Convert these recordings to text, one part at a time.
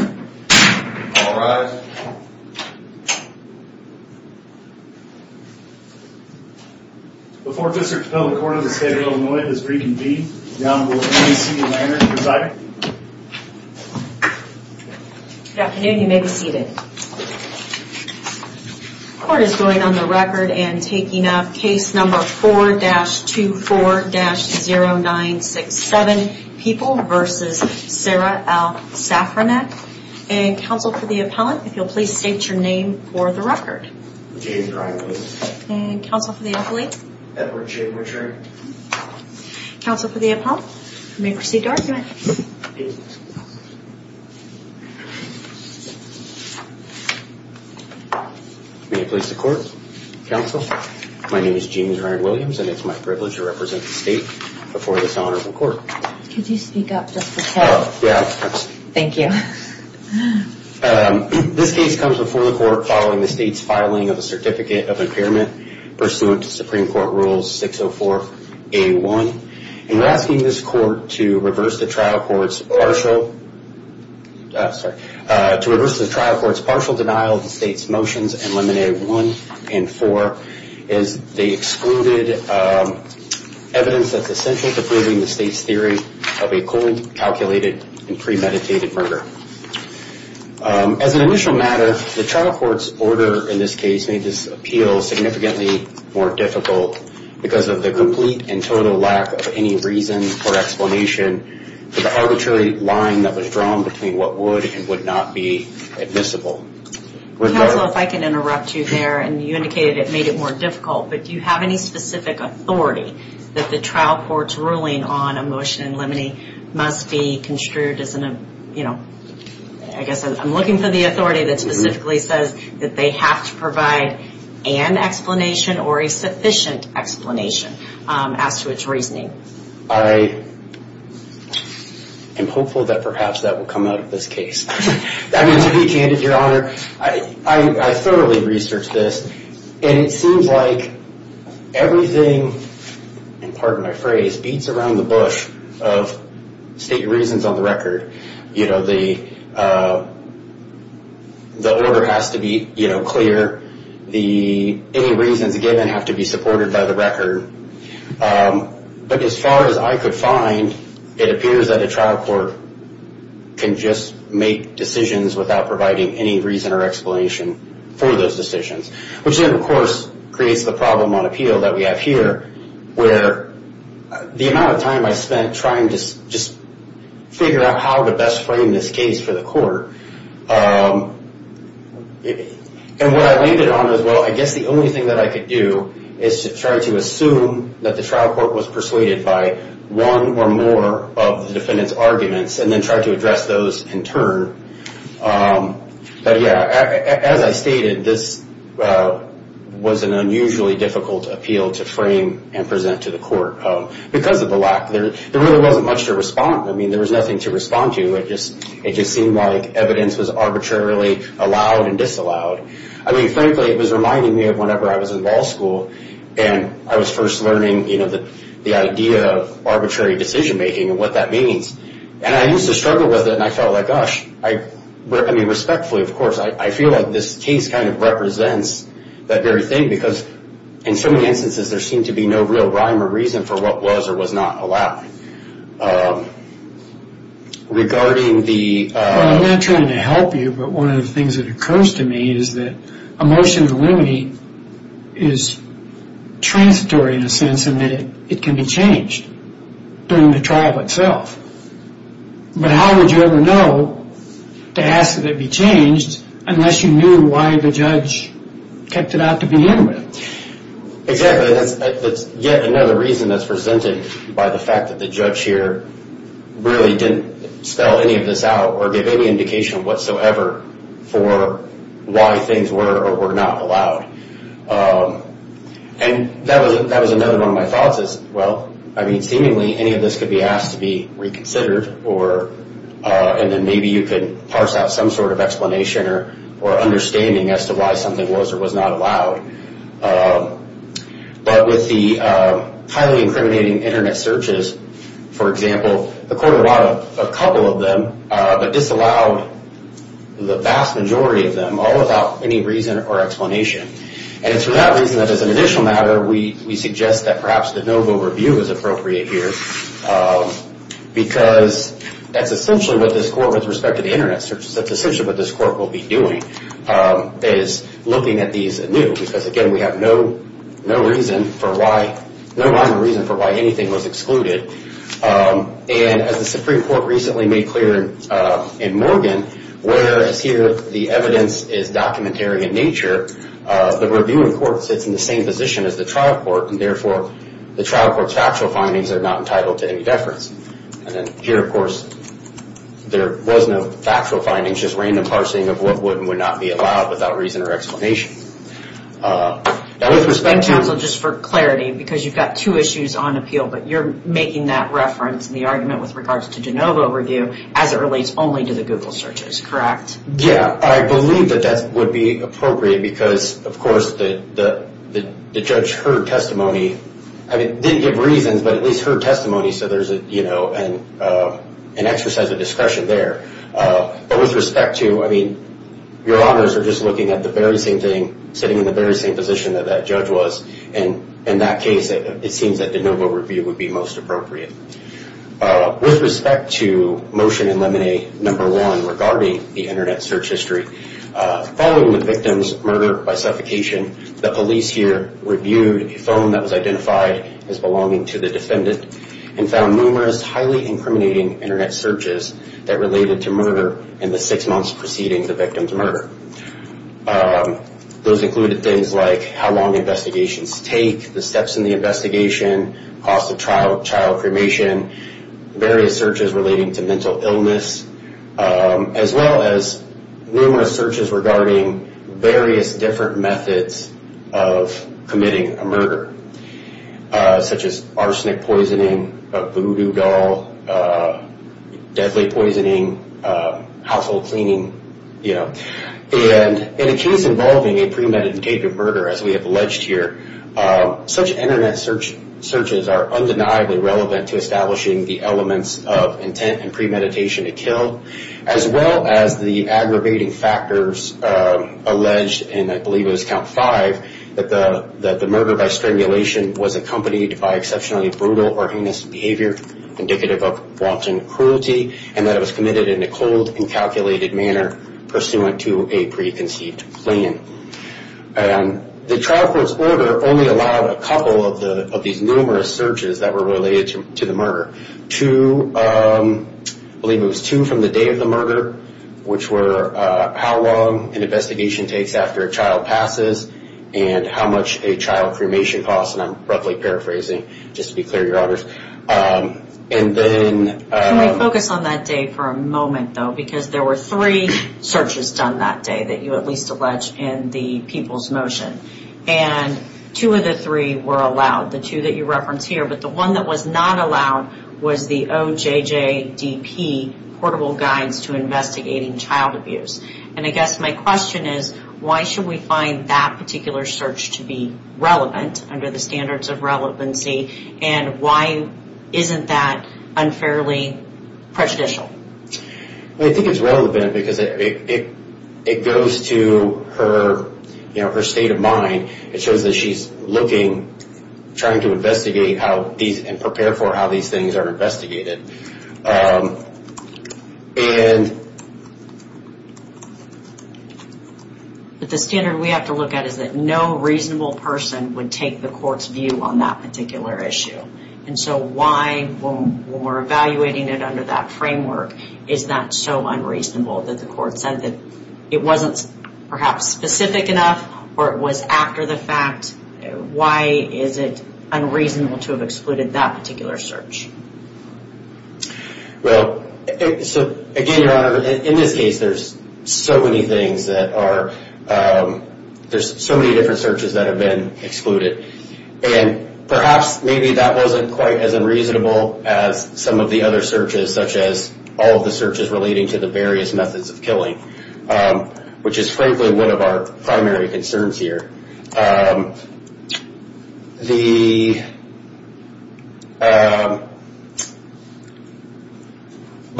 All rise. Before Mr. Capella, the court of the state of Illinois has reconvened. Down will K.C. Lanner, presiding. Good afternoon, you may be seated. The court is going on the record and taking up case number 4-24-0967, People v. Sarah L. Safranek. And counsel for the appellant, if you'll please state your name for the record. James Ryan Williams. And counsel for the appellate? Edward J. Murtry. Counsel for the appellant, you may proceed to argument. May it please the court. Counsel, my name is James Ryan Williams and it's my privilege to represent the state before this honorable court. Could you speak up just a tad? Thank you. This case comes before the court following the state's filing of a certificate of impairment pursuant to Supreme Court Rules 604-A1. And we're asking this court to reverse the trial court's partial denial of the state's motions in liminae 1 and 4, as they excluded evidence that's essential to proving the state's theory of a cold, calculated and premeditated murder. As an initial matter, the trial court's order in this case made this appeal significantly more difficult because of the complete and total lack of any reason or explanation for the arbitrary line that was drawn between what would and would not be admissible. Counsel, if I can interrupt you there, and you indicated it made it more difficult, but do you have any specific authority that the trial court's ruling on a motion in liminae must be construed as an, you know, I guess I'm looking for the authority that specifically says that they have to provide an explanation or a sufficient explanation as to its reasoning. I am hopeful that perhaps that will come out of this case. I mean, to be candid, Your Honor, I thoroughly researched this, and it seems like everything, and pardon my phrase, beats around the bush of state reasons on the record. You know, the order has to be, you know, clear. Any reasons given have to be supported by the record. But as far as I could find, it appears that a trial court can just make decisions without providing any reason or explanation for those decisions, which then, of course, creates the problem on appeal that we have here, where the amount of time I spent trying to just figure out how to best frame this case for the court, and what I landed on is, well, I guess the only thing that I could do is to try to assume that the trial court was persuaded by one or more of the defendant's arguments and then try to address those in turn. But, yeah, as I stated, this was an unusually difficult appeal to frame and present to the court. Because of the lack, there really wasn't much to respond. I mean, there was nothing to respond to. It just seemed like evidence was arbitrarily allowed and disallowed. I mean, frankly, it was reminding me of whenever I was in law school and I was first learning, you know, the idea of arbitrary decision-making and what that means. And I used to struggle with it, and I felt like, gosh, I mean, respectfully, of course, I feel like this case kind of represents that very thing because in so many instances, there seemed to be no real rhyme or reason for what was or was not allowed. Regarding the... Well, I'm not trying to help you, but one of the things that occurs to me is that a motion to eliminate is transitory in a sense in that it can be changed during the trial itself. But how would you ever know to ask that it be changed unless you knew why the judge kept it out to begin with? Exactly. That's yet another reason that's presented by the fact that the judge here really didn't spell any of this out or give any indication whatsoever for why things were or were not allowed. And that was another one of my thoughts is, well, I mean, seemingly any of this could be asked to be reconsidered and then maybe you could parse out some sort of explanation or understanding as to why something was or was not allowed. But with the highly incriminating Internet searches, for example, the court allowed a couple of them but disallowed the vast majority of them, all without any reason or explanation. And it's for that reason that as an additional matter, we suggest that perhaps the NOVO review is appropriate here because that's essentially what this court, with respect to the Internet searches, that's essentially what this court will be doing is looking at these anew because, again, we have no reason for why anything was excluded. And as the Supreme Court recently made clear in Morgan, whereas here the evidence is documentary in nature, the reviewing court sits in the same position as the trial court and therefore the trial court's factual findings are not entitled to any deference. And then here, of course, there was no factual findings, just random parsing of what would and would not be allowed without reason or explanation. Now, with respect to... Thank you, counsel, just for clarity because you've got two issues on appeal but you're making that reference in the argument with regards to the NOVO review as it relates only to the Google searches, correct? Yeah, I believe that that would be appropriate because, of course, the judge heard testimony. I mean, didn't give reasons but at least heard testimony so there's an exercise of discretion there. But with respect to... I mean, your honors are just looking at the very same thing, sitting in the very same position that that judge was. And in that case, it seems that the NOVO review would be most appropriate. With respect to Motion in Lemonade No. 1 regarding the Internet search history, following the victim's murder by suffocation, the police here reviewed a phone that was identified as belonging to the defendant and found numerous highly incriminating Internet searches that related to murder in the six months preceding the victim's murder. Those included things like how long investigations take, the steps in the investigation, cost of trial, child cremation, various searches relating to mental illness, as well as numerous searches regarding various different methods of committing a murder such as arsenic poisoning, voodoo doll, deadly poisoning, household cleaning, you know. And in a case involving a premeditated murder, as we have alleged here, such Internet searches are undeniably relevant to establishing the elements of intent and premeditation to kill, as well as the aggravating factors alleged, and I believe it was count five, that the murder by strimulation was accompanied by exceptionally brutal or heinous behavior indicative of wanton cruelty and that it was committed in a cold and calculated manner pursuant to a preconceived plan. The trial court's order only allowed a couple of these numerous searches that were related to the murder. Two, I believe it was two from the day of the murder, which were how long an investigation takes after a child passes and how much a child cremation costs, and I'm roughly paraphrasing, just to be clear, Your Honors. And then... Can we focus on that day for a moment, though, because there were three searches done that day that you at least allege in the people's motion, and two of the three were allowed, the two that you reference here, but the one that was not allowed was the OJJDP portable guides to investigating child abuse. And I guess my question is why should we find that particular search to be relevant under the standards of relevancy, and why isn't that unfairly prejudicial? I think it's relevant because it goes to her state of mind. It shows that she's looking, trying to investigate and prepare for how these things are investigated. But the standard we have to look at is that no reasonable person would take the court's view on that particular issue. And so why, when we're evaluating it under that framework, is that so unreasonable that the court said that it wasn't perhaps specific enough or it was after the fact, why is it unreasonable to have excluded that particular search? Well, so again, Your Honor, in this case, there's so many things that are, there's so many different searches that have been excluded. And perhaps maybe that wasn't quite as unreasonable as some of the other searches, such as all of the searches relating to the various methods of killing, which is frankly one of our primary concerns here. But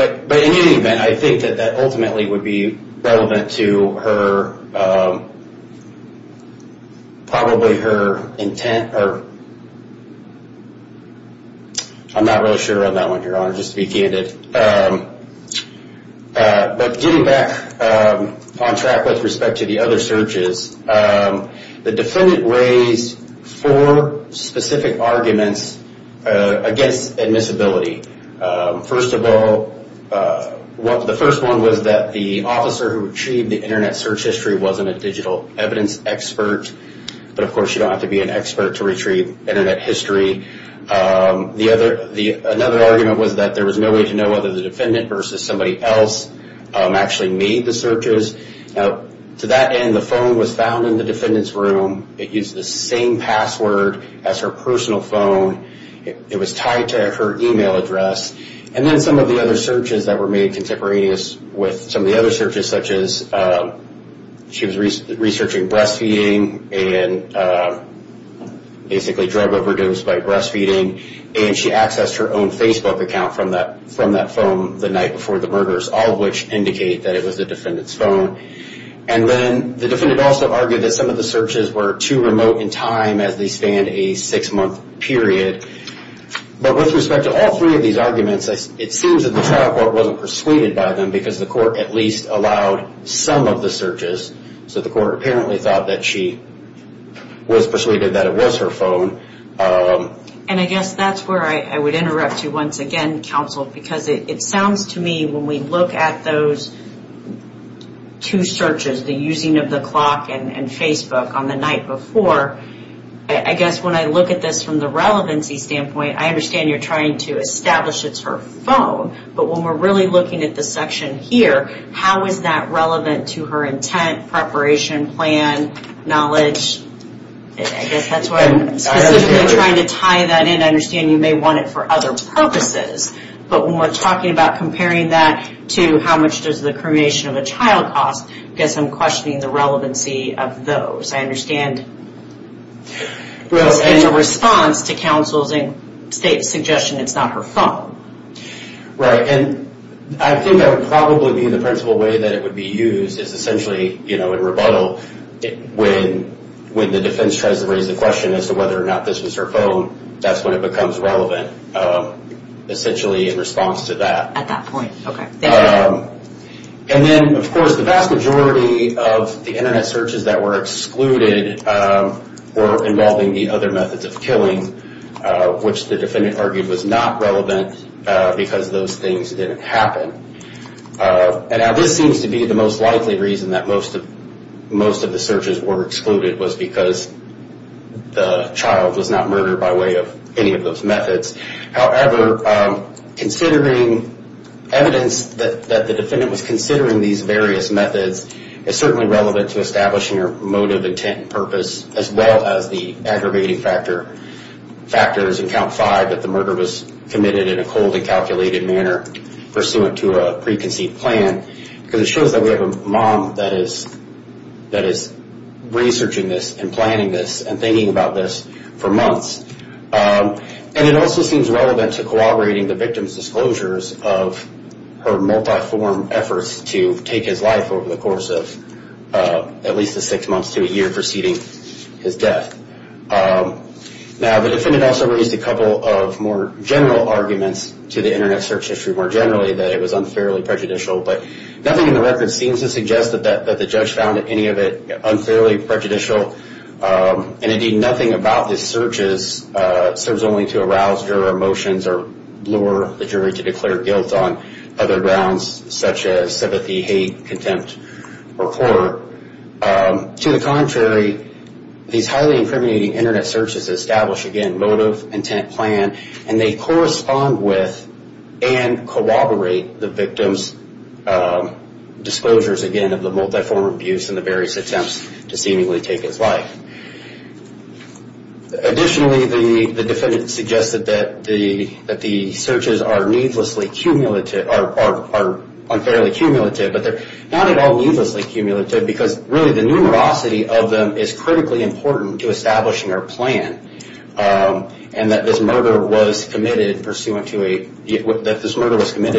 in any event, I think that that ultimately would be relevant to her, probably her intent, or I'm not really sure on that one, Your Honor, just to be candid. But getting back on track with respect to the other searches, the defendant raised four specific arguments against admissibility. First of all, the first one was that the officer who retrieved the Internet search history wasn't a digital evidence expert. But of course, you don't have to be an expert to retrieve Internet history. Another argument was that there was no way to know whether the defendant versus somebody else actually made the searches. Now, to that end, the phone was found in the defendant's room. It used the same password as her personal phone. It was tied to her email address. And then some of the other searches that were made contemporaneous with some of the other searches, such as she was researching breastfeeding and basically drug overdose by breastfeeding, and she accessed her own Facebook account from that phone the night before the murders, all of which indicate that it was the defendant's phone. And then the defendant also argued that some of the searches were too remote in time as they spanned a six-month period. But with respect to all three of these arguments, it seems that the trial court wasn't persuaded by them because the court at least allowed some of the searches. So the court apparently thought that she was persuaded that it was her phone. And I guess that's where I would interrupt you once again, counsel, because it sounds to me when we look at those two searches, the using of the clock and Facebook on the night before, I guess when I look at this from the relevancy standpoint, I understand you're trying to establish it's her phone. But when we're really looking at the section here, how is that relevant to her intent, preparation, plan, knowledge? I guess that's where I'm specifically trying to tie that in. I understand you may want it for other purposes. But when we're talking about comparing that to how much does the cremation of a child cost, I guess I'm questioning the relevancy of those. I understand in response to counsel's suggestion it's not her phone. And I think that would probably be the principal way that it would be used is essentially, in rebuttal, when the defense tries to raise the question as to whether or not this was her phone, that's when it becomes relevant, essentially in response to that. At that point, okay. And then, of course, the vast majority of the Internet searches that were excluded were involving the other methods of killing, which the defendant argued was not relevant because those things didn't happen. And this seems to be the most likely reason that most of the searches were excluded was because the child was not murdered by way of any of those methods. However, considering evidence that the defendant was considering these various methods is certainly relevant to establishing her motive, intent, and purpose, as well as the aggravating factors in count five that the murder was committed in a cold and calculated manner pursuant to a preconceived plan. Because it shows that we have a mom that is researching this and planning this and thinking about this for months. And it also seems relevant to corroborating the victim's disclosures of her multi-form efforts to take his life over the course of at least the six months to a year preceding his death. Now, the defendant also raised a couple of more general arguments to the Internet search history more generally that it was unfairly prejudicial, but nothing in the record seems to suggest that the judge found any of it unfairly prejudicial. And, indeed, nothing about the searches serves only to arouse juror emotions or lure the jury to declare guilt on other grounds such as sympathy, hate, contempt, or horror. To the contrary, these highly incriminating Internet searches establish, again, motive, intent, plan, and they correspond with and corroborate the victim's disclosures, again, of the multi-form abuse and the various attempts to seemingly take his life. Additionally, the defendant suggested that the searches are unfairly cumulative, but they're not at all needlessly cumulative because, really, the numerosity of them is critically important to establishing our plan and that this murder was committed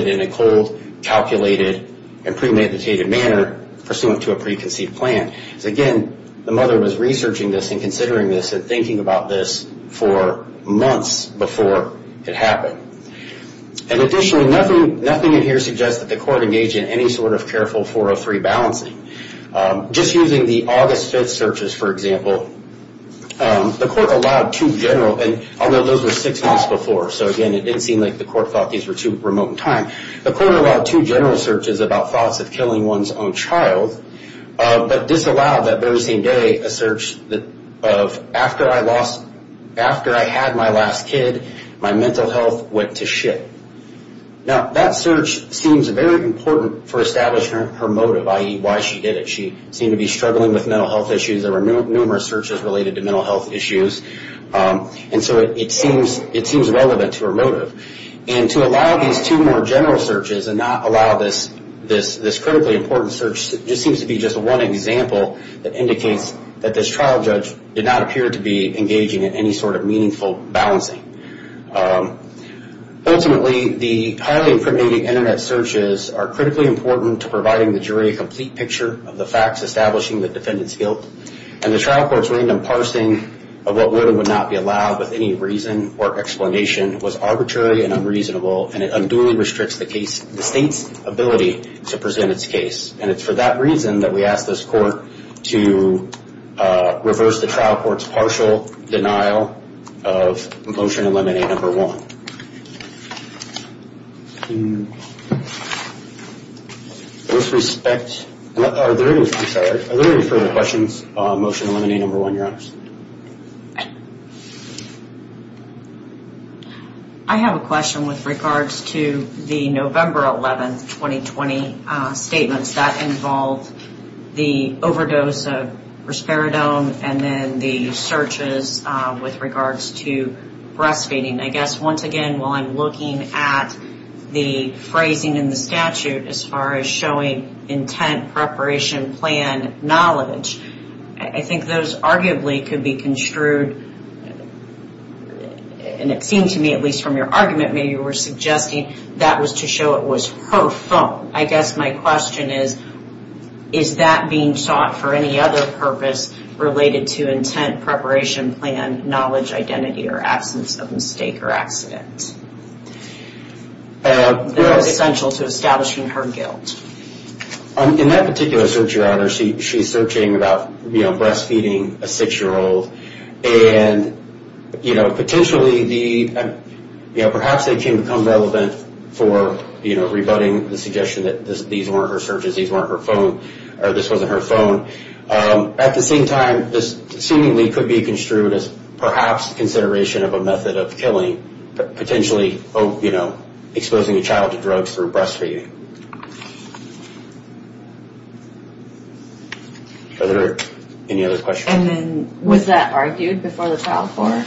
in a cold, calculated, and premeditated manner pursuant to a preconceived plan. Again, the mother was researching this and considering this and thinking about this for months before it happened. And, additionally, nothing in here suggests that the court engaged in any sort of careful 403 balancing. Just using the August 5th searches, for example, the court allowed two general, and although those were six months before, so, again, it didn't seem like the court thought these were too remote in time, the court allowed two general searches about thoughts of killing one's own child, but disallowed that very same day a search of, after I had my last kid, my mental health went to shit. Now, that search seems very important for establishing her motive, i.e., why she did it. She seemed to be struggling with mental health issues. There were numerous searches related to mental health issues, and so it seems relevant to her motive. And to allow these two more general searches and not allow this critically important search just seems to be just one example that indicates that this trial judge did not appear to be engaging in any sort of meaningful balancing. Ultimately, the highly impregnated Internet searches are critically important to providing the jury a complete picture of the facts establishing the defendant's guilt, and the trial court's random parsing of what would and would not be allowed with any reason or explanation was arbitrary and unreasonable, and it unduly restricts the state's ability to present its case. And it's for that reason that we ask this court to reverse the trial court's partial denial of Motion to Eliminate No. 1. With respect, are there any further questions on Motion to Eliminate No. 1, Your Honors? I have a question with regards to the November 11, 2020, statements that involved the overdose of risperidone and then the searches with regards to breastfeeding. I guess, once again, while I'm looking at the phrasing in the statute as far as showing intent, preparation, plan, knowledge, I think those arguably could be construed, and it seemed to me, at least from your argument, maybe you were suggesting that was to show it was her phone. I guess my question is, is that being sought for any other purpose related to intent, preparation, plan, knowledge, identity, or absence of mistake or accident that was essential to establishing her guilt? In that particular search, Your Honor, she's searching about breastfeeding a 6-year-old, and potentially perhaps it can become relevant for rebutting the suggestion that these weren't her searches, these weren't her phone, or this wasn't her phone. At the same time, this seemingly could be construed as perhaps consideration of a method of killing, potentially exposing a child to drugs through breastfeeding. Are there any other questions? And then, was that argued before the trial court?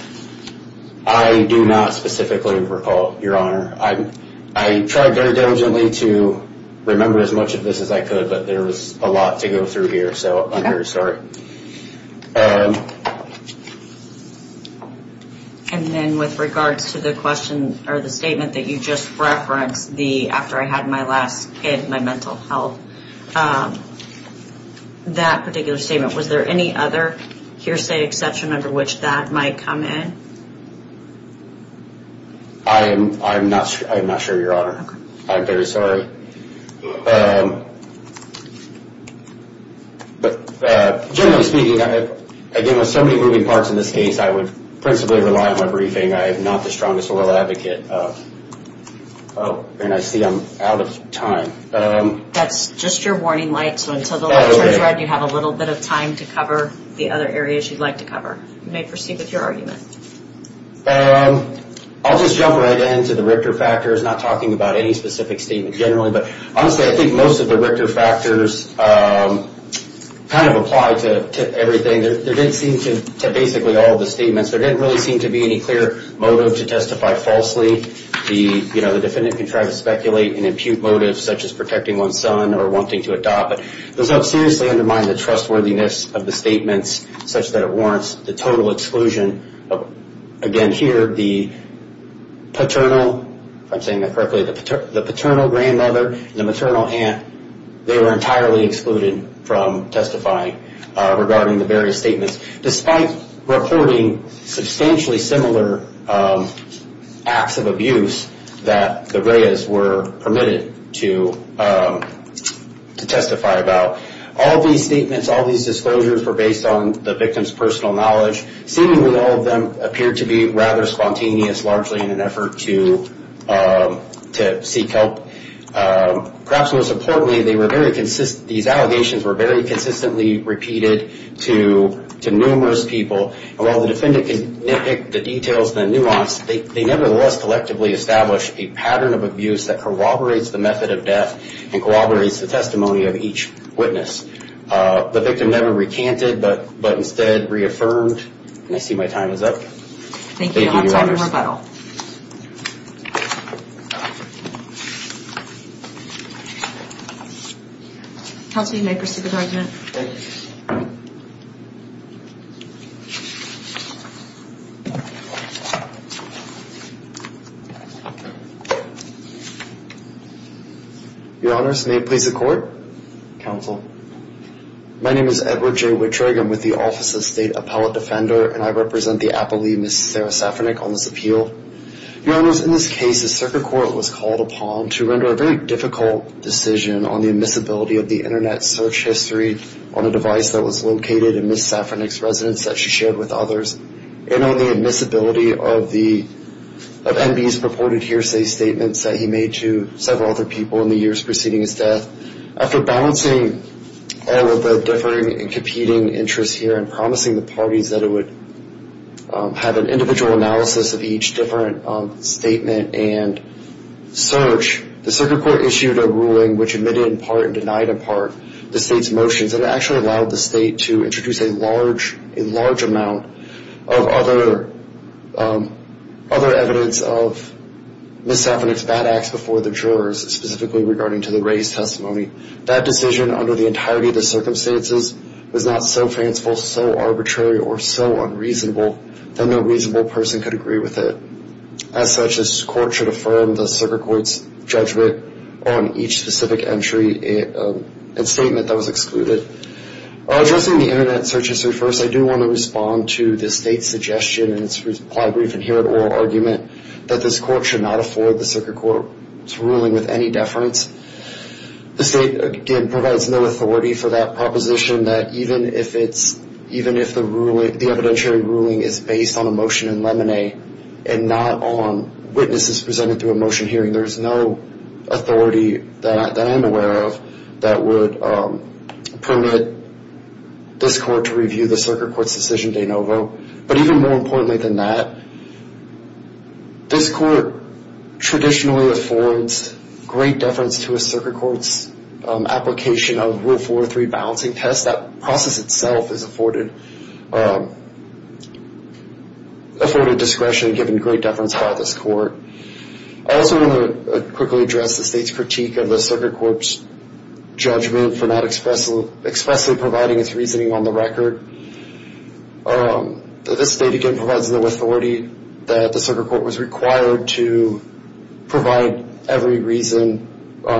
I do not specifically recall, Your Honor. I tried very diligently to remember as much of this as I could, but there was a lot to go through here, so I'm very sorry. And then with regards to the statement that you just referenced, the after I had my last kid, my mental health, that particular statement, was there any other hearsay exception under which that might come in? I'm not sure, Your Honor. I'm very sorry. Generally speaking, again, with so many moving parts in this case, I would principally rely on my briefing. I am not the strongest oral advocate, and I see I'm out of time. That's just your warning light, so until the light turns red, you have a little bit of time to cover the other areas you'd like to cover. You may proceed with your argument. I'll just jump right in to the Richter factors, not talking about any specific statement generally, but honestly I think most of the Richter factors kind of apply to everything. Basically all of the statements, there didn't really seem to be any clear motive to testify falsely. The defendant can try to speculate and impute motives such as protecting one's son or wanting to adopt, but those don't seriously undermine the trustworthiness of the statements such that it warrants the total exclusion. Again, here, the paternal, if I'm saying that correctly, the paternal grandmother and the maternal aunt, they were entirely excluded from testifying regarding the various statements, despite reporting substantially similar acts of abuse that the Reyes were permitted to testify about. All these statements, all these disclosures, were based on the victim's personal knowledge. Seemingly all of them appeared to be rather spontaneous, largely in an effort to seek help. Perhaps most importantly, these allegations were very consistently repeated to numerous people, and while the defendant can nitpick the details and the nuance, they nevertheless collectively establish a pattern of abuse that corroborates the method of death and corroborates the testimony of each witness. The victim never recanted, but instead reaffirmed, and I see my time is up. Thank you. Thank you, Your Honors. Counsel, you may proceed with argument. Thank you. Your Honors, may it please the Court. Counsel. My name is Edward J. Wittrigg. I'm with the Office of the State Appellate Defender, and I represent the appellee, Ms. Sarah Safranek, on this appeal. Your Honors, in this case, a circuit court was called upon to render a very difficult decision on the admissibility of the Internet search history on a device that was located in Ms. Safranek's residence that she shared with others, and on the admissibility of MB's purported hearsay statements that he made to several other people in the years preceding his death. After balancing all of the differing and competing interests here and promising the parties that it would have an individual analysis of each different statement and search, the circuit court issued a ruling which admitted in part and denied in part the state's motions that actually allowed the state to introduce a large amount of other evidence of Ms. Safranek's bad acts before the jurors, specifically regarding to the race testimony. That decision, under the entirety of the circumstances, was not so fanciful, so arbitrary, or so unreasonable that no reasonable person could agree with it. As such, this court should affirm the circuit court's judgment on each specific entry and statement that was excluded. Addressing the Internet search history first, I do want to respond to the state's suggestion in its reply brief and here at oral argument that this court should not afford the circuit court's ruling with any deference. The state, again, provides no authority for that proposition that even if the evidentiary ruling is based on a motion in lemonade and not on witnesses presented through a motion hearing, there is no authority that I am aware of that would permit this court to review the circuit court's decision de novo. But even more importantly than that, this court traditionally affords great deference to a circuit court's application of Rule 403 balancing test. That process itself is afforded discretion given great deference by this court. I also want to quickly address the state's critique of the circuit court's judgment for not expressly providing its reasoning on the record. The state, again, provides no authority that the circuit court was required to provide every reason. I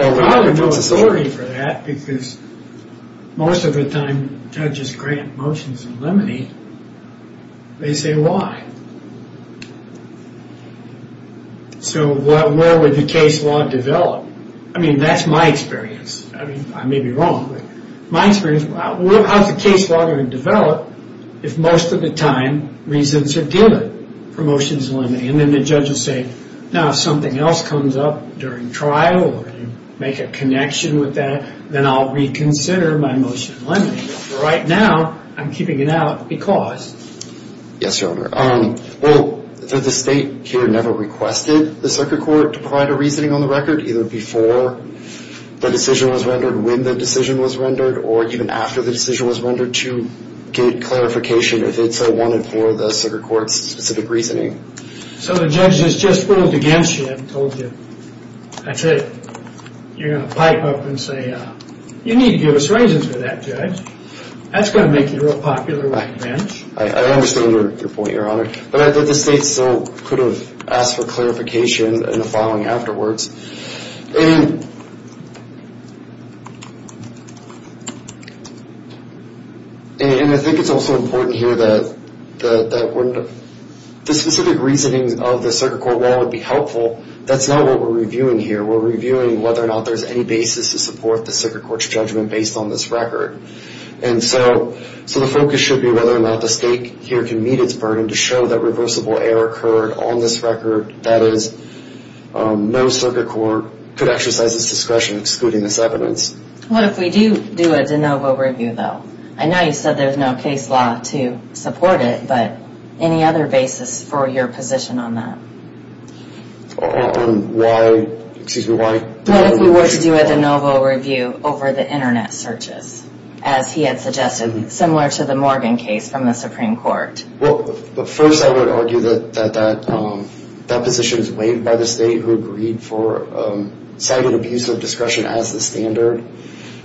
have no authority for that because most of the time judges grant motions in lemonade. They say, why? So where would the case law develop? I mean, that's my experience. I may be wrong, but my experience, how's the case law going to develop if most of the time reasons are given for motions in lemonade? And then the judge will say, now if something else comes up during trial or you make a connection with that, then I'll reconsider my motion in lemonade. But for right now, I'm keeping it out because... Yes, Your Honor. Well, the state here never requested the circuit court to provide a reasoning on the record, either before the decision was rendered, when the decision was rendered, or even after the decision was rendered to get clarification if it's wanted for the circuit court's specific reasoning. So the judge has just ruled against you, I've told you. That's it. You're going to pipe up and say, you need to give us reasons for that, Judge. That's going to make you real popular with the bench. I understand your point, Your Honor. But the state still could have asked for clarification in the following afterwards. And... And I think it's also important here that... the specific reasoning of the circuit court law would be helpful. That's not what we're reviewing here. We're reviewing whether or not there's any basis to support the circuit court's judgment based on this record. And so the focus should be whether or not the state here can meet its burden to show that reversible error occurred on this record, that is, no circuit court could exercise its discretion excluding this evidence. What if we do do a de novo review, though? I know you said there's no case law to support it, but any other basis for your position on that? On why... Excuse me, why... What if we were to do a de novo review over the Internet searches, as he had suggested, similar to the Morgan case from the Supreme Court? Well, first I would argue that that position is weighed by the state who agreed for cited abuse of discretion as the standard.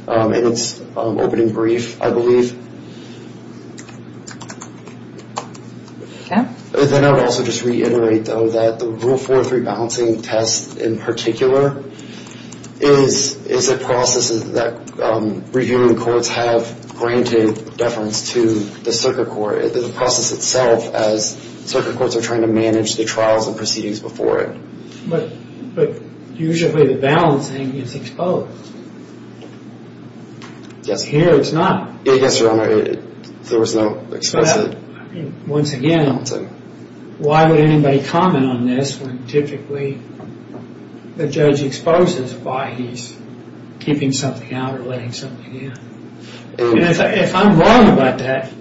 And it's open and brief, I believe. Then I would also just reiterate, though, that the Rule 4.3 balancing test in particular is a process that reviewing courts have granted deference to the circuit court. The process itself, as circuit courts are trying to manage the trials and proceedings before it. But usually the balancing is exposed. Here it's not. Yes, Your Honor, there was no explicit... Once again, why would anybody comment on this when typically the judge exposes why he's keeping something out or letting something in? If I'm wrong about that,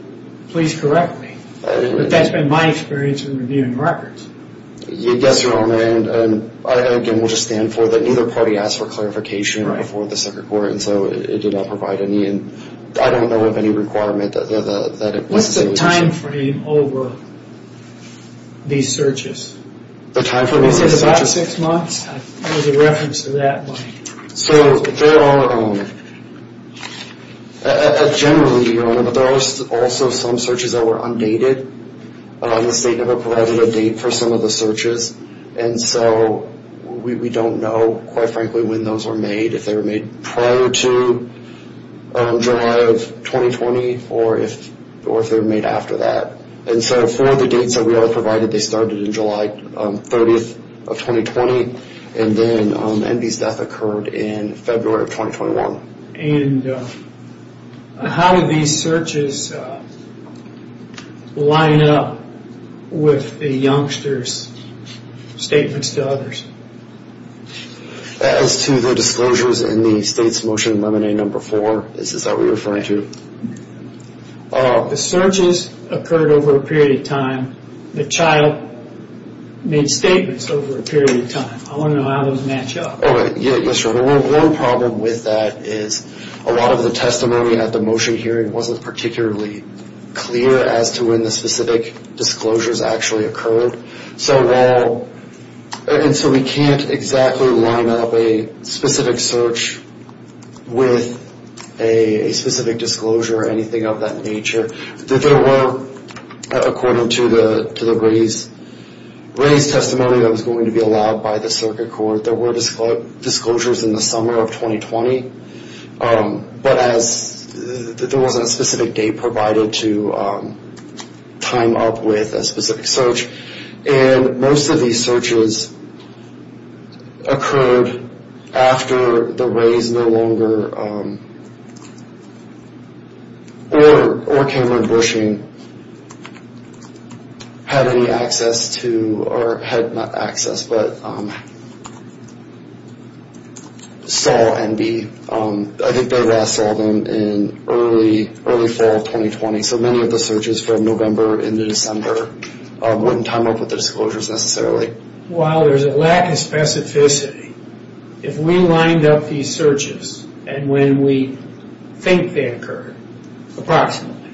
please correct me. But that's been my experience in reviewing records. Yes, Your Honor, and again, we'll just stand for that neither party asked for clarification before the circuit court, and so it did not provide any. I don't know of any requirement that it... What's the time frame over these searches? The time frame... Is it about six months? There's a reference to that one. So there are... Generally, Your Honor, there are also some searches that were undated. The state never provided a date for some of the searches, and so we don't know, quite frankly, when those were made, if they were made prior to July of 2020 or if they were made after that. And so for the dates that we are provided, they started in July 30th of 2020, and then Enby's death occurred in February of 2021. And how did these searches line up with the youngster's statements to others? As to the disclosures in the state's motion in Lemonade No. 4, this is what we're referring to. The searches occurred over a period of time. The child made statements over a period of time. I want to know how those match up. Yes, Your Honor. One problem with that is a lot of the testimony at the motion hearing wasn't particularly clear as to when the specific disclosures actually occurred. And so we can't exactly line up a specific search with a specific disclosure or anything of that nature. There were, according to the raised testimony that was going to be allowed by the circuit court, there were disclosures in the summer of 2020, but there wasn't a specific date provided to time up with a specific search. And most of these searches occurred after the raised no longer, or Cameron Bushing, had any access to, or had not access, but saw and be, I think they last saw them in early fall of 2020. So many of the searches from November into December wouldn't time up with the disclosures necessarily. While there's a lack of specificity, if we lined up these searches and when we think they occurred, approximately,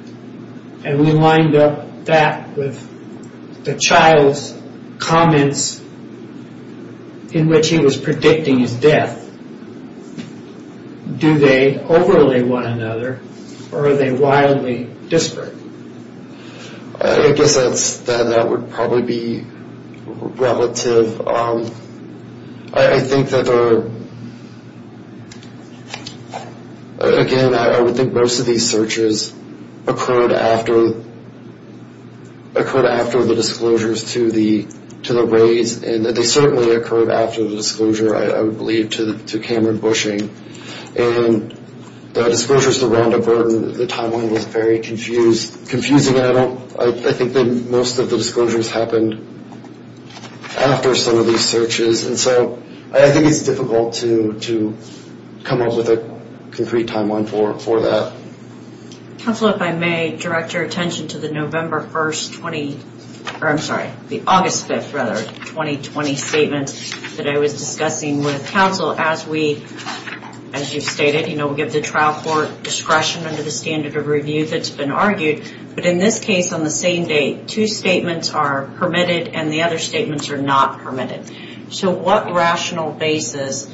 and we lined up that with the child's comments in which he was predicting his death, do they overlay one another, or are they wildly disparate? I guess that would probably be relative. I think that there are, again, I would think most of these searches occurred after the disclosures to the raised, and they certainly occurred after the disclosure, I would believe, to Cameron Bushing. And the disclosures to Rhonda Burton, the timeline was very confusing, and I think that most of the disclosures happened after some of these searches. And so I think it's difficult to come up with a concrete timeline for that. Counselor, if I may direct your attention to the November 1st, 20, or I'm sorry, the August 5th, rather, 2020 statement that I was discussing with counsel as we, as you stated, we give the trial court discretion under the standard of review that's been argued, but in this case, on the same day, two statements are permitted and the other statements are not permitted. So what rational basis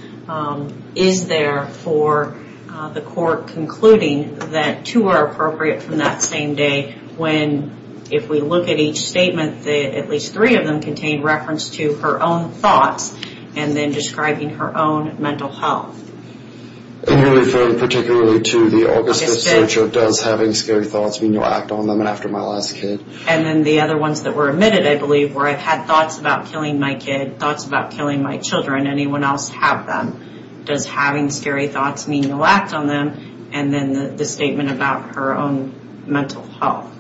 is there for the court concluding that two are appropriate from that same day when, if we look at each statement, at least three of them contain reference to her own thoughts and then describing her own mental health? And you're referring particularly to the August 5th search of does having scary thoughts mean you'll act on them after my last kid? And then the other ones that were omitted, I believe, where I've had thoughts about killing my kid, thoughts about killing my children, anyone else have them? Does having scary thoughts mean you'll act on them? And then the statement about her own mental health.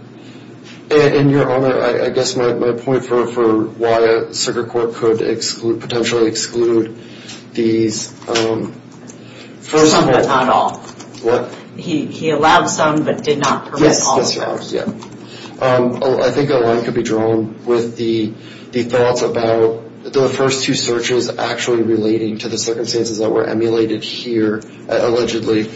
And, Your Honor, I guess my point for why a circuit court could exclude, potentially exclude these first of all... Some but not all. What? He allowed some but did not permit all. Yes, Your Honors, yeah. I think a line could be drawn with the thoughts about the first two searches actually relating to the circumstances that were emulated here, allegedly,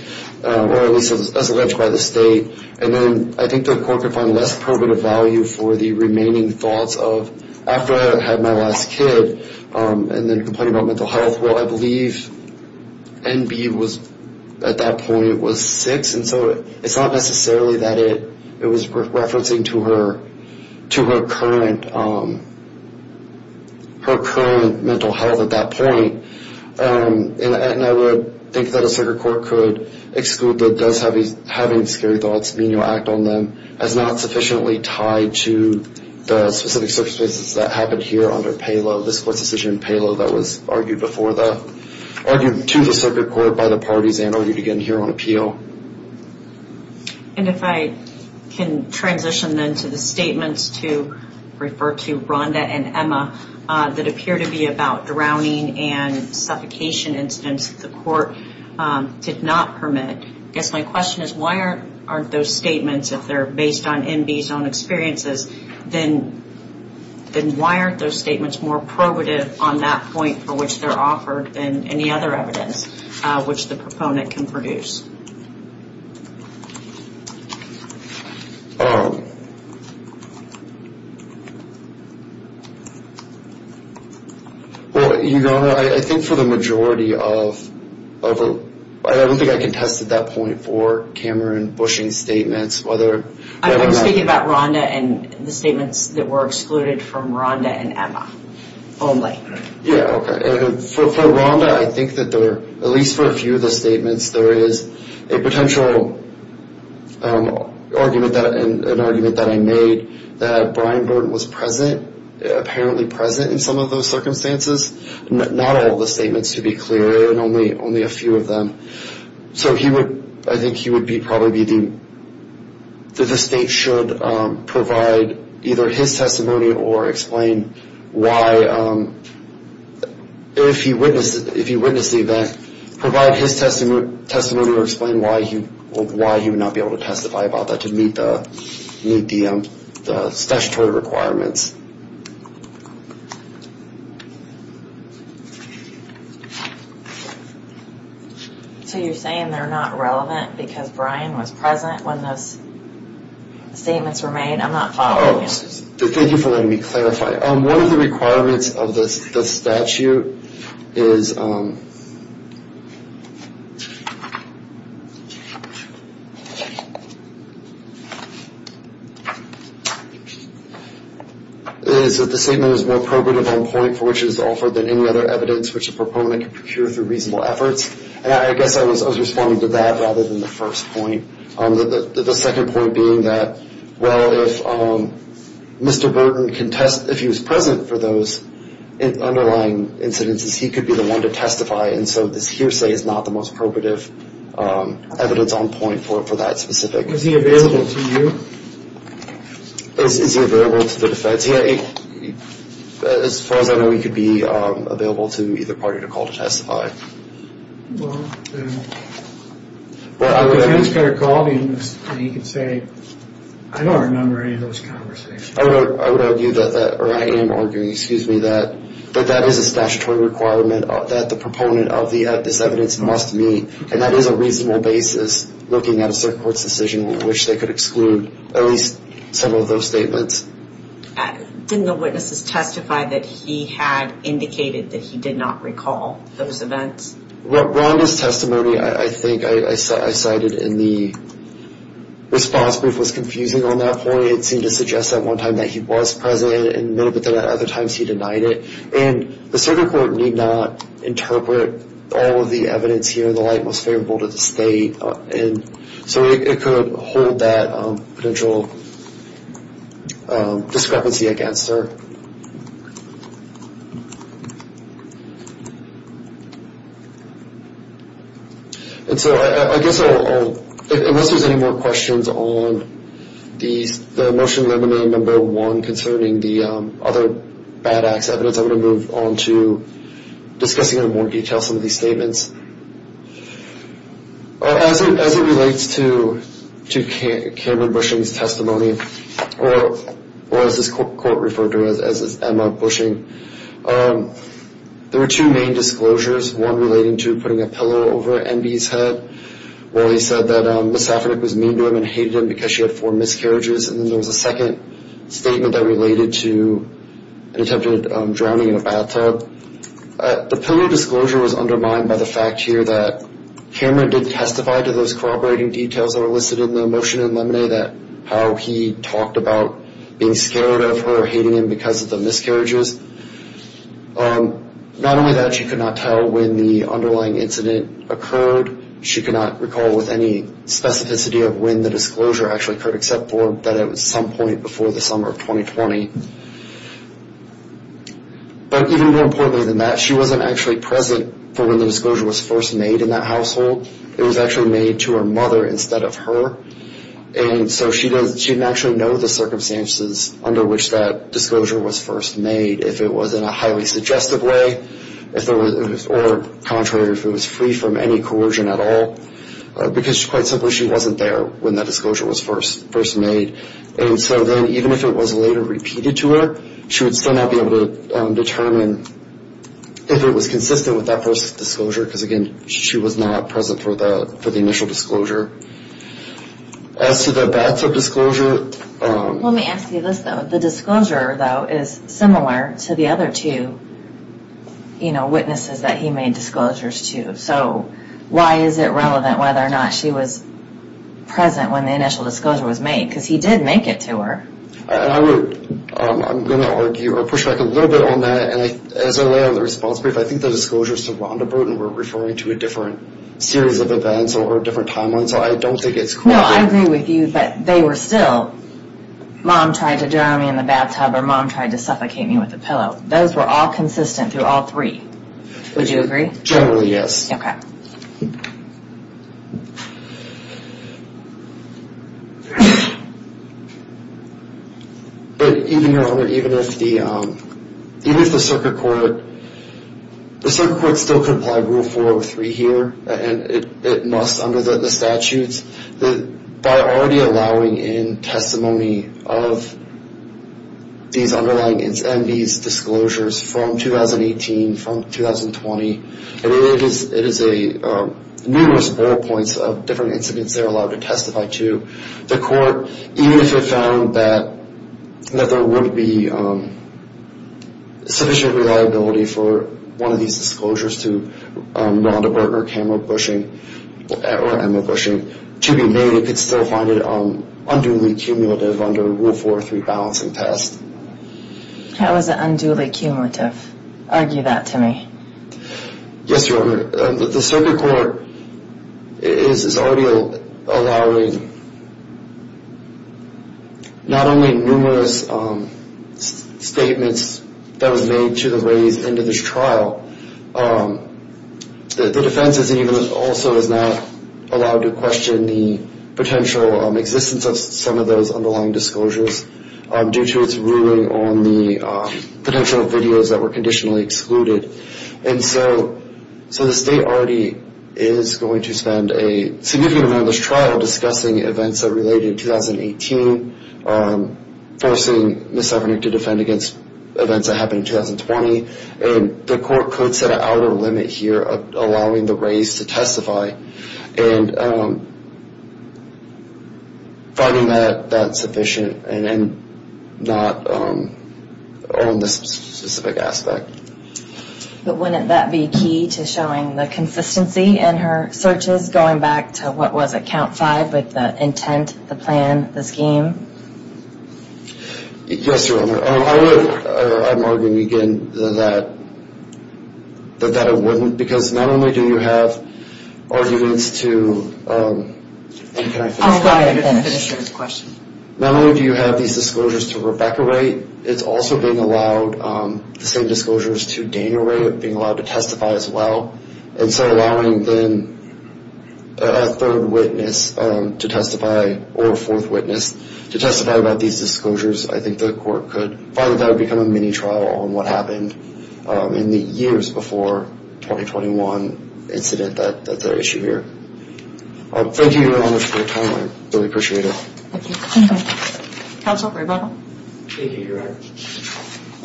or at least as alleged by the state. And then I think the court could find less probative value for the remaining thoughts of after I had my last kid, and then complaining about mental health. Well, I believe NB at that point was six, and so it's not necessarily that it was referencing to her current mental health at that point. And I would think that a circuit court could exclude that does having scary thoughts mean you'll act on them as not sufficiently tied to the specific circumstances that happened here under this court's decision in payload that was argued to the circuit court by the parties and argued again here on appeal. And if I can transition then to the statements to refer to Rhonda and Emma that appear to be about drowning and suffocation incidents that the court did not permit. I guess my question is why aren't those statements, if they're based on NB's own experiences, then why aren't those statements more probative on that point for which they're offered than any other evidence which the proponent can produce? Well, Your Honor, I think for the majority of... I don't think I can test at that point for Cameron Bushing's statements whether... I'm speaking about Rhonda and the statements that were excluded from Rhonda and Emma only. Yeah, okay. And for Rhonda, I think that there are, at least for a few of the statements, there is a potential argument that I made that Brian Burton was present, apparently present in some of those circumstances. Not all the statements, to be clear, and only a few of them. So I think he would probably be the... that the state should provide either his testimony or explain why, if he witnessed the event, provide his testimony or explain why he would not be able to testify about that to meet the statutory requirements. So you're saying they're not relevant because Brian was present when those statements were made? I'm not following you. Thank you for letting me clarify. Okay, one of the requirements of the statute is... is that the statement is more probative on point for which it is offered than any other evidence which a proponent can procure through reasonable efforts. And I guess I was responding to that rather than the first point. The second point being that, well, if Mr. Burton can test... if he was present for those underlying incidences, he could be the one to testify. And so this hearsay is not the most probative evidence on point for that specific... Is he available to you? Is he available to the defense? As far as I know, he could be available to either party to call to testify. Well, then... And he could say, I don't remember any of those conversations. I would argue that that... or I am arguing, excuse me, that that is a statutory requirement that the proponent of this evidence must meet. And that is a reasonable basis looking at a circuit court's decision in which they could exclude at least some of those statements. Didn't the witnesses testify that he had indicated that he did not recall those events? Ronda's testimony, I think, I cited in the response brief, was confusing on that point. It seemed to suggest at one time that he was present and a little bit at other times he denied it. And the circuit court need not interpret all of the evidence here in the light most favorable to the state. And so it could hold that potential discrepancy against her. And so I guess I'll... unless there's any more questions on the motion limiting number one concerning the other Badax evidence, I'm going to move on to discussing in more detail some of these statements. As it relates to Cameron Bushing's testimony, or as this court referred to him as, as Emma Bushing, there were two main disclosures. One relating to putting a pillow over Enby's head, where he said that Ms. Safranek was mean to him and hated him because she had four miscarriages. And then there was a second statement that related to an attempted drowning in a bathtub. The pillow disclosure was undermined by the fact here that Cameron did testify to those corroborating details that are listed in the motion in Lemone that how he talked about being scared of her or hating him because of the miscarriages. Not only that, she could not tell when the underlying incident occurred. She could not recall with any specificity of when the disclosure actually occurred, except for that it was some point before the summer of 2020. But even more importantly than that, she wasn't actually present for when the disclosure was first made in that household. It was actually made to her mother instead of her. And so she didn't actually know the circumstances under which that disclosure was first made, if it was in a highly suggestive way or, contrary, if it was free from any coercion at all, because quite simply she wasn't there when that disclosure was first made. And so then even if it was later repeated to her, she would still not be able to determine if it was consistent with that first disclosure, because, again, she was not present for the initial disclosure. As to the bathtub disclosure... Let me ask you this, though. The disclosure, though, is similar to the other two, you know, witnesses that he made disclosures to. So why is it relevant whether or not she was present when the initial disclosure was made? Because he did make it to her. I'm going to argue, or push back a little bit on that, and as I lay out in the response brief, I think the disclosures to Rhonda Bruton were referring to a different series of events or a different timeline, so I don't think it's... No, I agree with you, but they were still... Mom tried to drown me in the bathtub, or Mom tried to suffocate me with a pillow. Those were all consistent through all three. Would you agree? Generally, yes. Okay. But even if the circuit court... The circuit court still complied with Rule 403 here, and it must under the statutes, that by already allowing in testimony of these underlying and these disclosures from 2018, from 2020, and it is a numerous ballpoints of different incidents they're allowed to testify to, the court, even if it found that there wouldn't be sufficient reliability for one of these disclosures to Rhonda Bruton or Emma Bushing, to be made, it could still find it unduly cumulative under Rule 403 balancing test. How is it unduly cumulative? Argue that to me. Yes, Your Honor. The circuit court is already allowing not only numerous statements that was made to the ladies into this trial, the defense is even also is not allowed to question the potential existence of some of those underlying disclosures due to its ruling on the potential videos that were conditionally excluded. And so the state already is going to spend a significant amount of this trial discussing events that are related to 2018, forcing Ms. Suffernick to defend against events that happened in 2020. And the court could set an outer limit here of allowing the race to testify and finding that sufficient and not on this specific aspect. But wouldn't that be key to showing the consistency in her searches going back to what was at count five with the intent, the plan, the scheme? Yes, Your Honor. I'm arguing again that it wouldn't because not only do you have arguments to... Not only do you have these disclosures to Rebecca Wright, it's also being allowed the same disclosures to Daniel Wright being allowed to testify as well. And so allowing then a third witness to testify or a fourth witness to testify about these disclosures, I think the court could find that that would become a mini-trial on what happened in the years before the 2021 incident that's at issue here. Thank you, Your Honor, for your time. I really appreciate it. Thank you. Counsel, Rebecca? Thank you, Your Honor.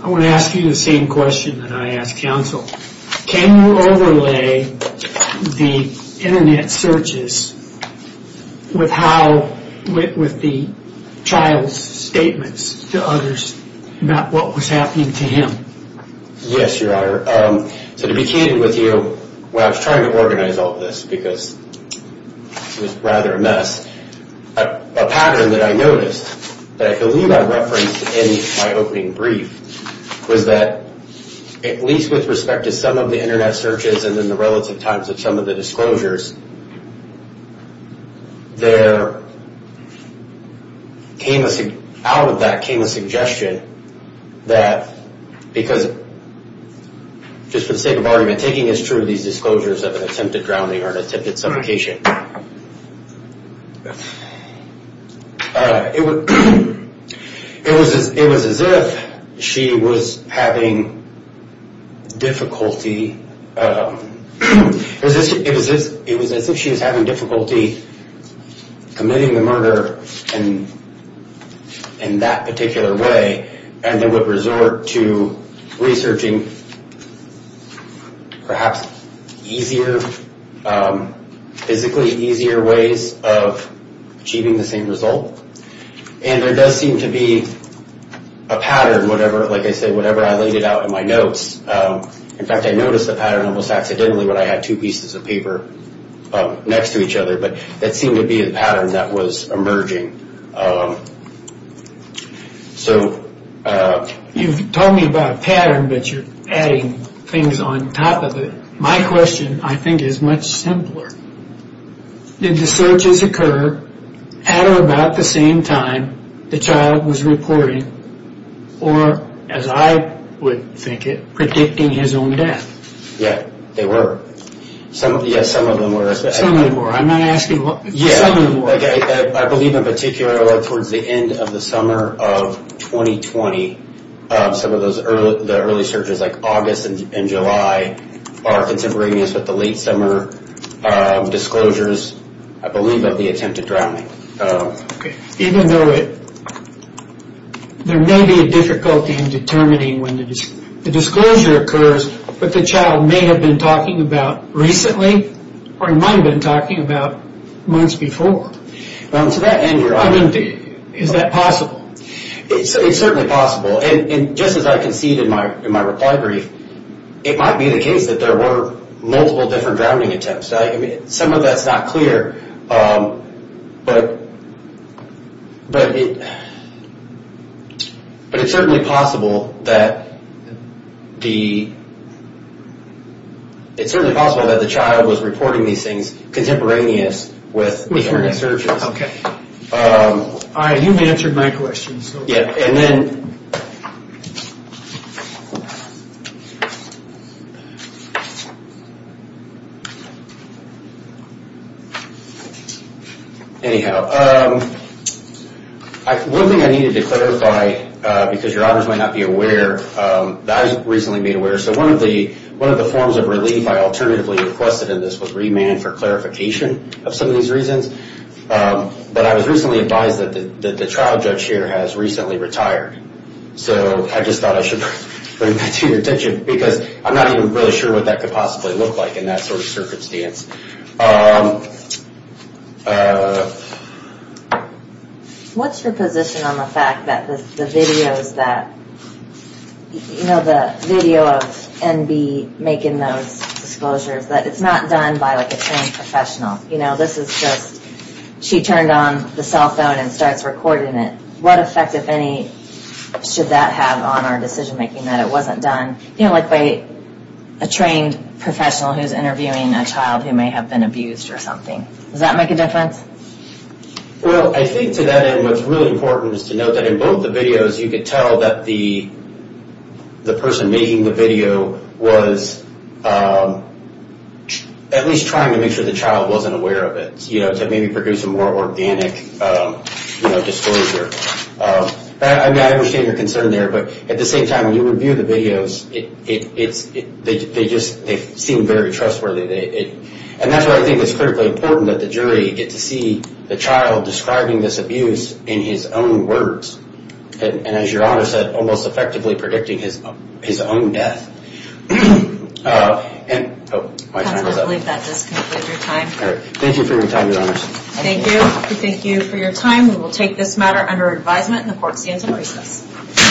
I want to ask you the same question that I asked counsel. Can you overlay the internet searches with the child's statements to others about what was happening to him? Yes, Your Honor. So to be candid with you, while I was trying to organize all this because it was rather a mess, a pattern that I noticed that I believe I referenced in my opening brief was that at least with respect to some of the internet searches and in the relative times of some of the disclosures, out of that came a suggestion that, because just for the sake of argument, taking as true these disclosures of an attempted drowning or an attempted suffocation, it was as if she was having difficulty committing the murder in that particular way and then would resort to researching perhaps easier, physically easier ways of achieving the same result. And there does seem to be a pattern, like I said, whatever I laid out in my notes. In fact, I noticed a pattern almost accidentally when I had two pieces of paper next to each other, but that seemed to be a pattern that was emerging. So... You've told me about a pattern, but you're adding things on top of it. My question, I think, is much simpler. Did the searches occur at or about the same time the child was reporting or, as I would think it, predicting his own death? Yeah, they were. Yes, some of them were. Some of them were. I'm not asking what... Some of them were. I believe, in particular, towards the end of the summer of 2020, some of the early searches, like August and July, are contemporaneous with the late summer disclosures, I believe, of the attempted drowning. Even though there may be a difficulty in determining when the disclosure occurs, but the child may have been talking about recently or he might have been talking about months before. Well, to that end, you're... I mean, is that possible? It's certainly possible. And just as I conceded in my reply brief, it might be the case that there were multiple different drowning attempts. Some of that's not clear. But... But it... But it's certainly possible that the... It's certainly possible that the child was reporting these things contemporaneous with the early searches. You've answered my question, so... Yeah, and then... Anyhow. One thing I needed to clarify, because your honors might not be aware, that I was recently made aware, so one of the forms of relief I alternatively requested in this was remand for clarification of some of these reasons. But I was recently advised that the trial judge here has recently retired. So I just thought I should bring that to your attention because I'm not even really sure what that could possibly look like in that sort of circumstance. What's your position on the fact that the videos that... You know, the video of NB making those disclosures, that it's not done by, like, a trained professional? You know, this is just... She turned on the cell phone and starts recording it. What effect, if any, should that have on our decision-making that it wasn't done, you know, like, by a trained professional who's interviewing a child who may have been abused or something? Does that make a difference? Well, I think, to that end, what's really important is to note that in both the videos, you could tell that the person making the video was at least trying to make sure the child wasn't aware of it, you know, to maybe produce a more organic, you know, disclosure. I mean, I understand your concern there, but at the same time, when you review the videos, they just seem very trustworthy. And that's why I think it's critically important that the jury get to see the child describing this abuse in his own words, and, as Your Honor said, almost effectively predicting his own death. And... Oh, my time is up. I believe that does conclude your time. All right. Thank you for your time, Your Honors. Thank you. Thank you for your time. We will take this matter under advisement, and the court stands at recess.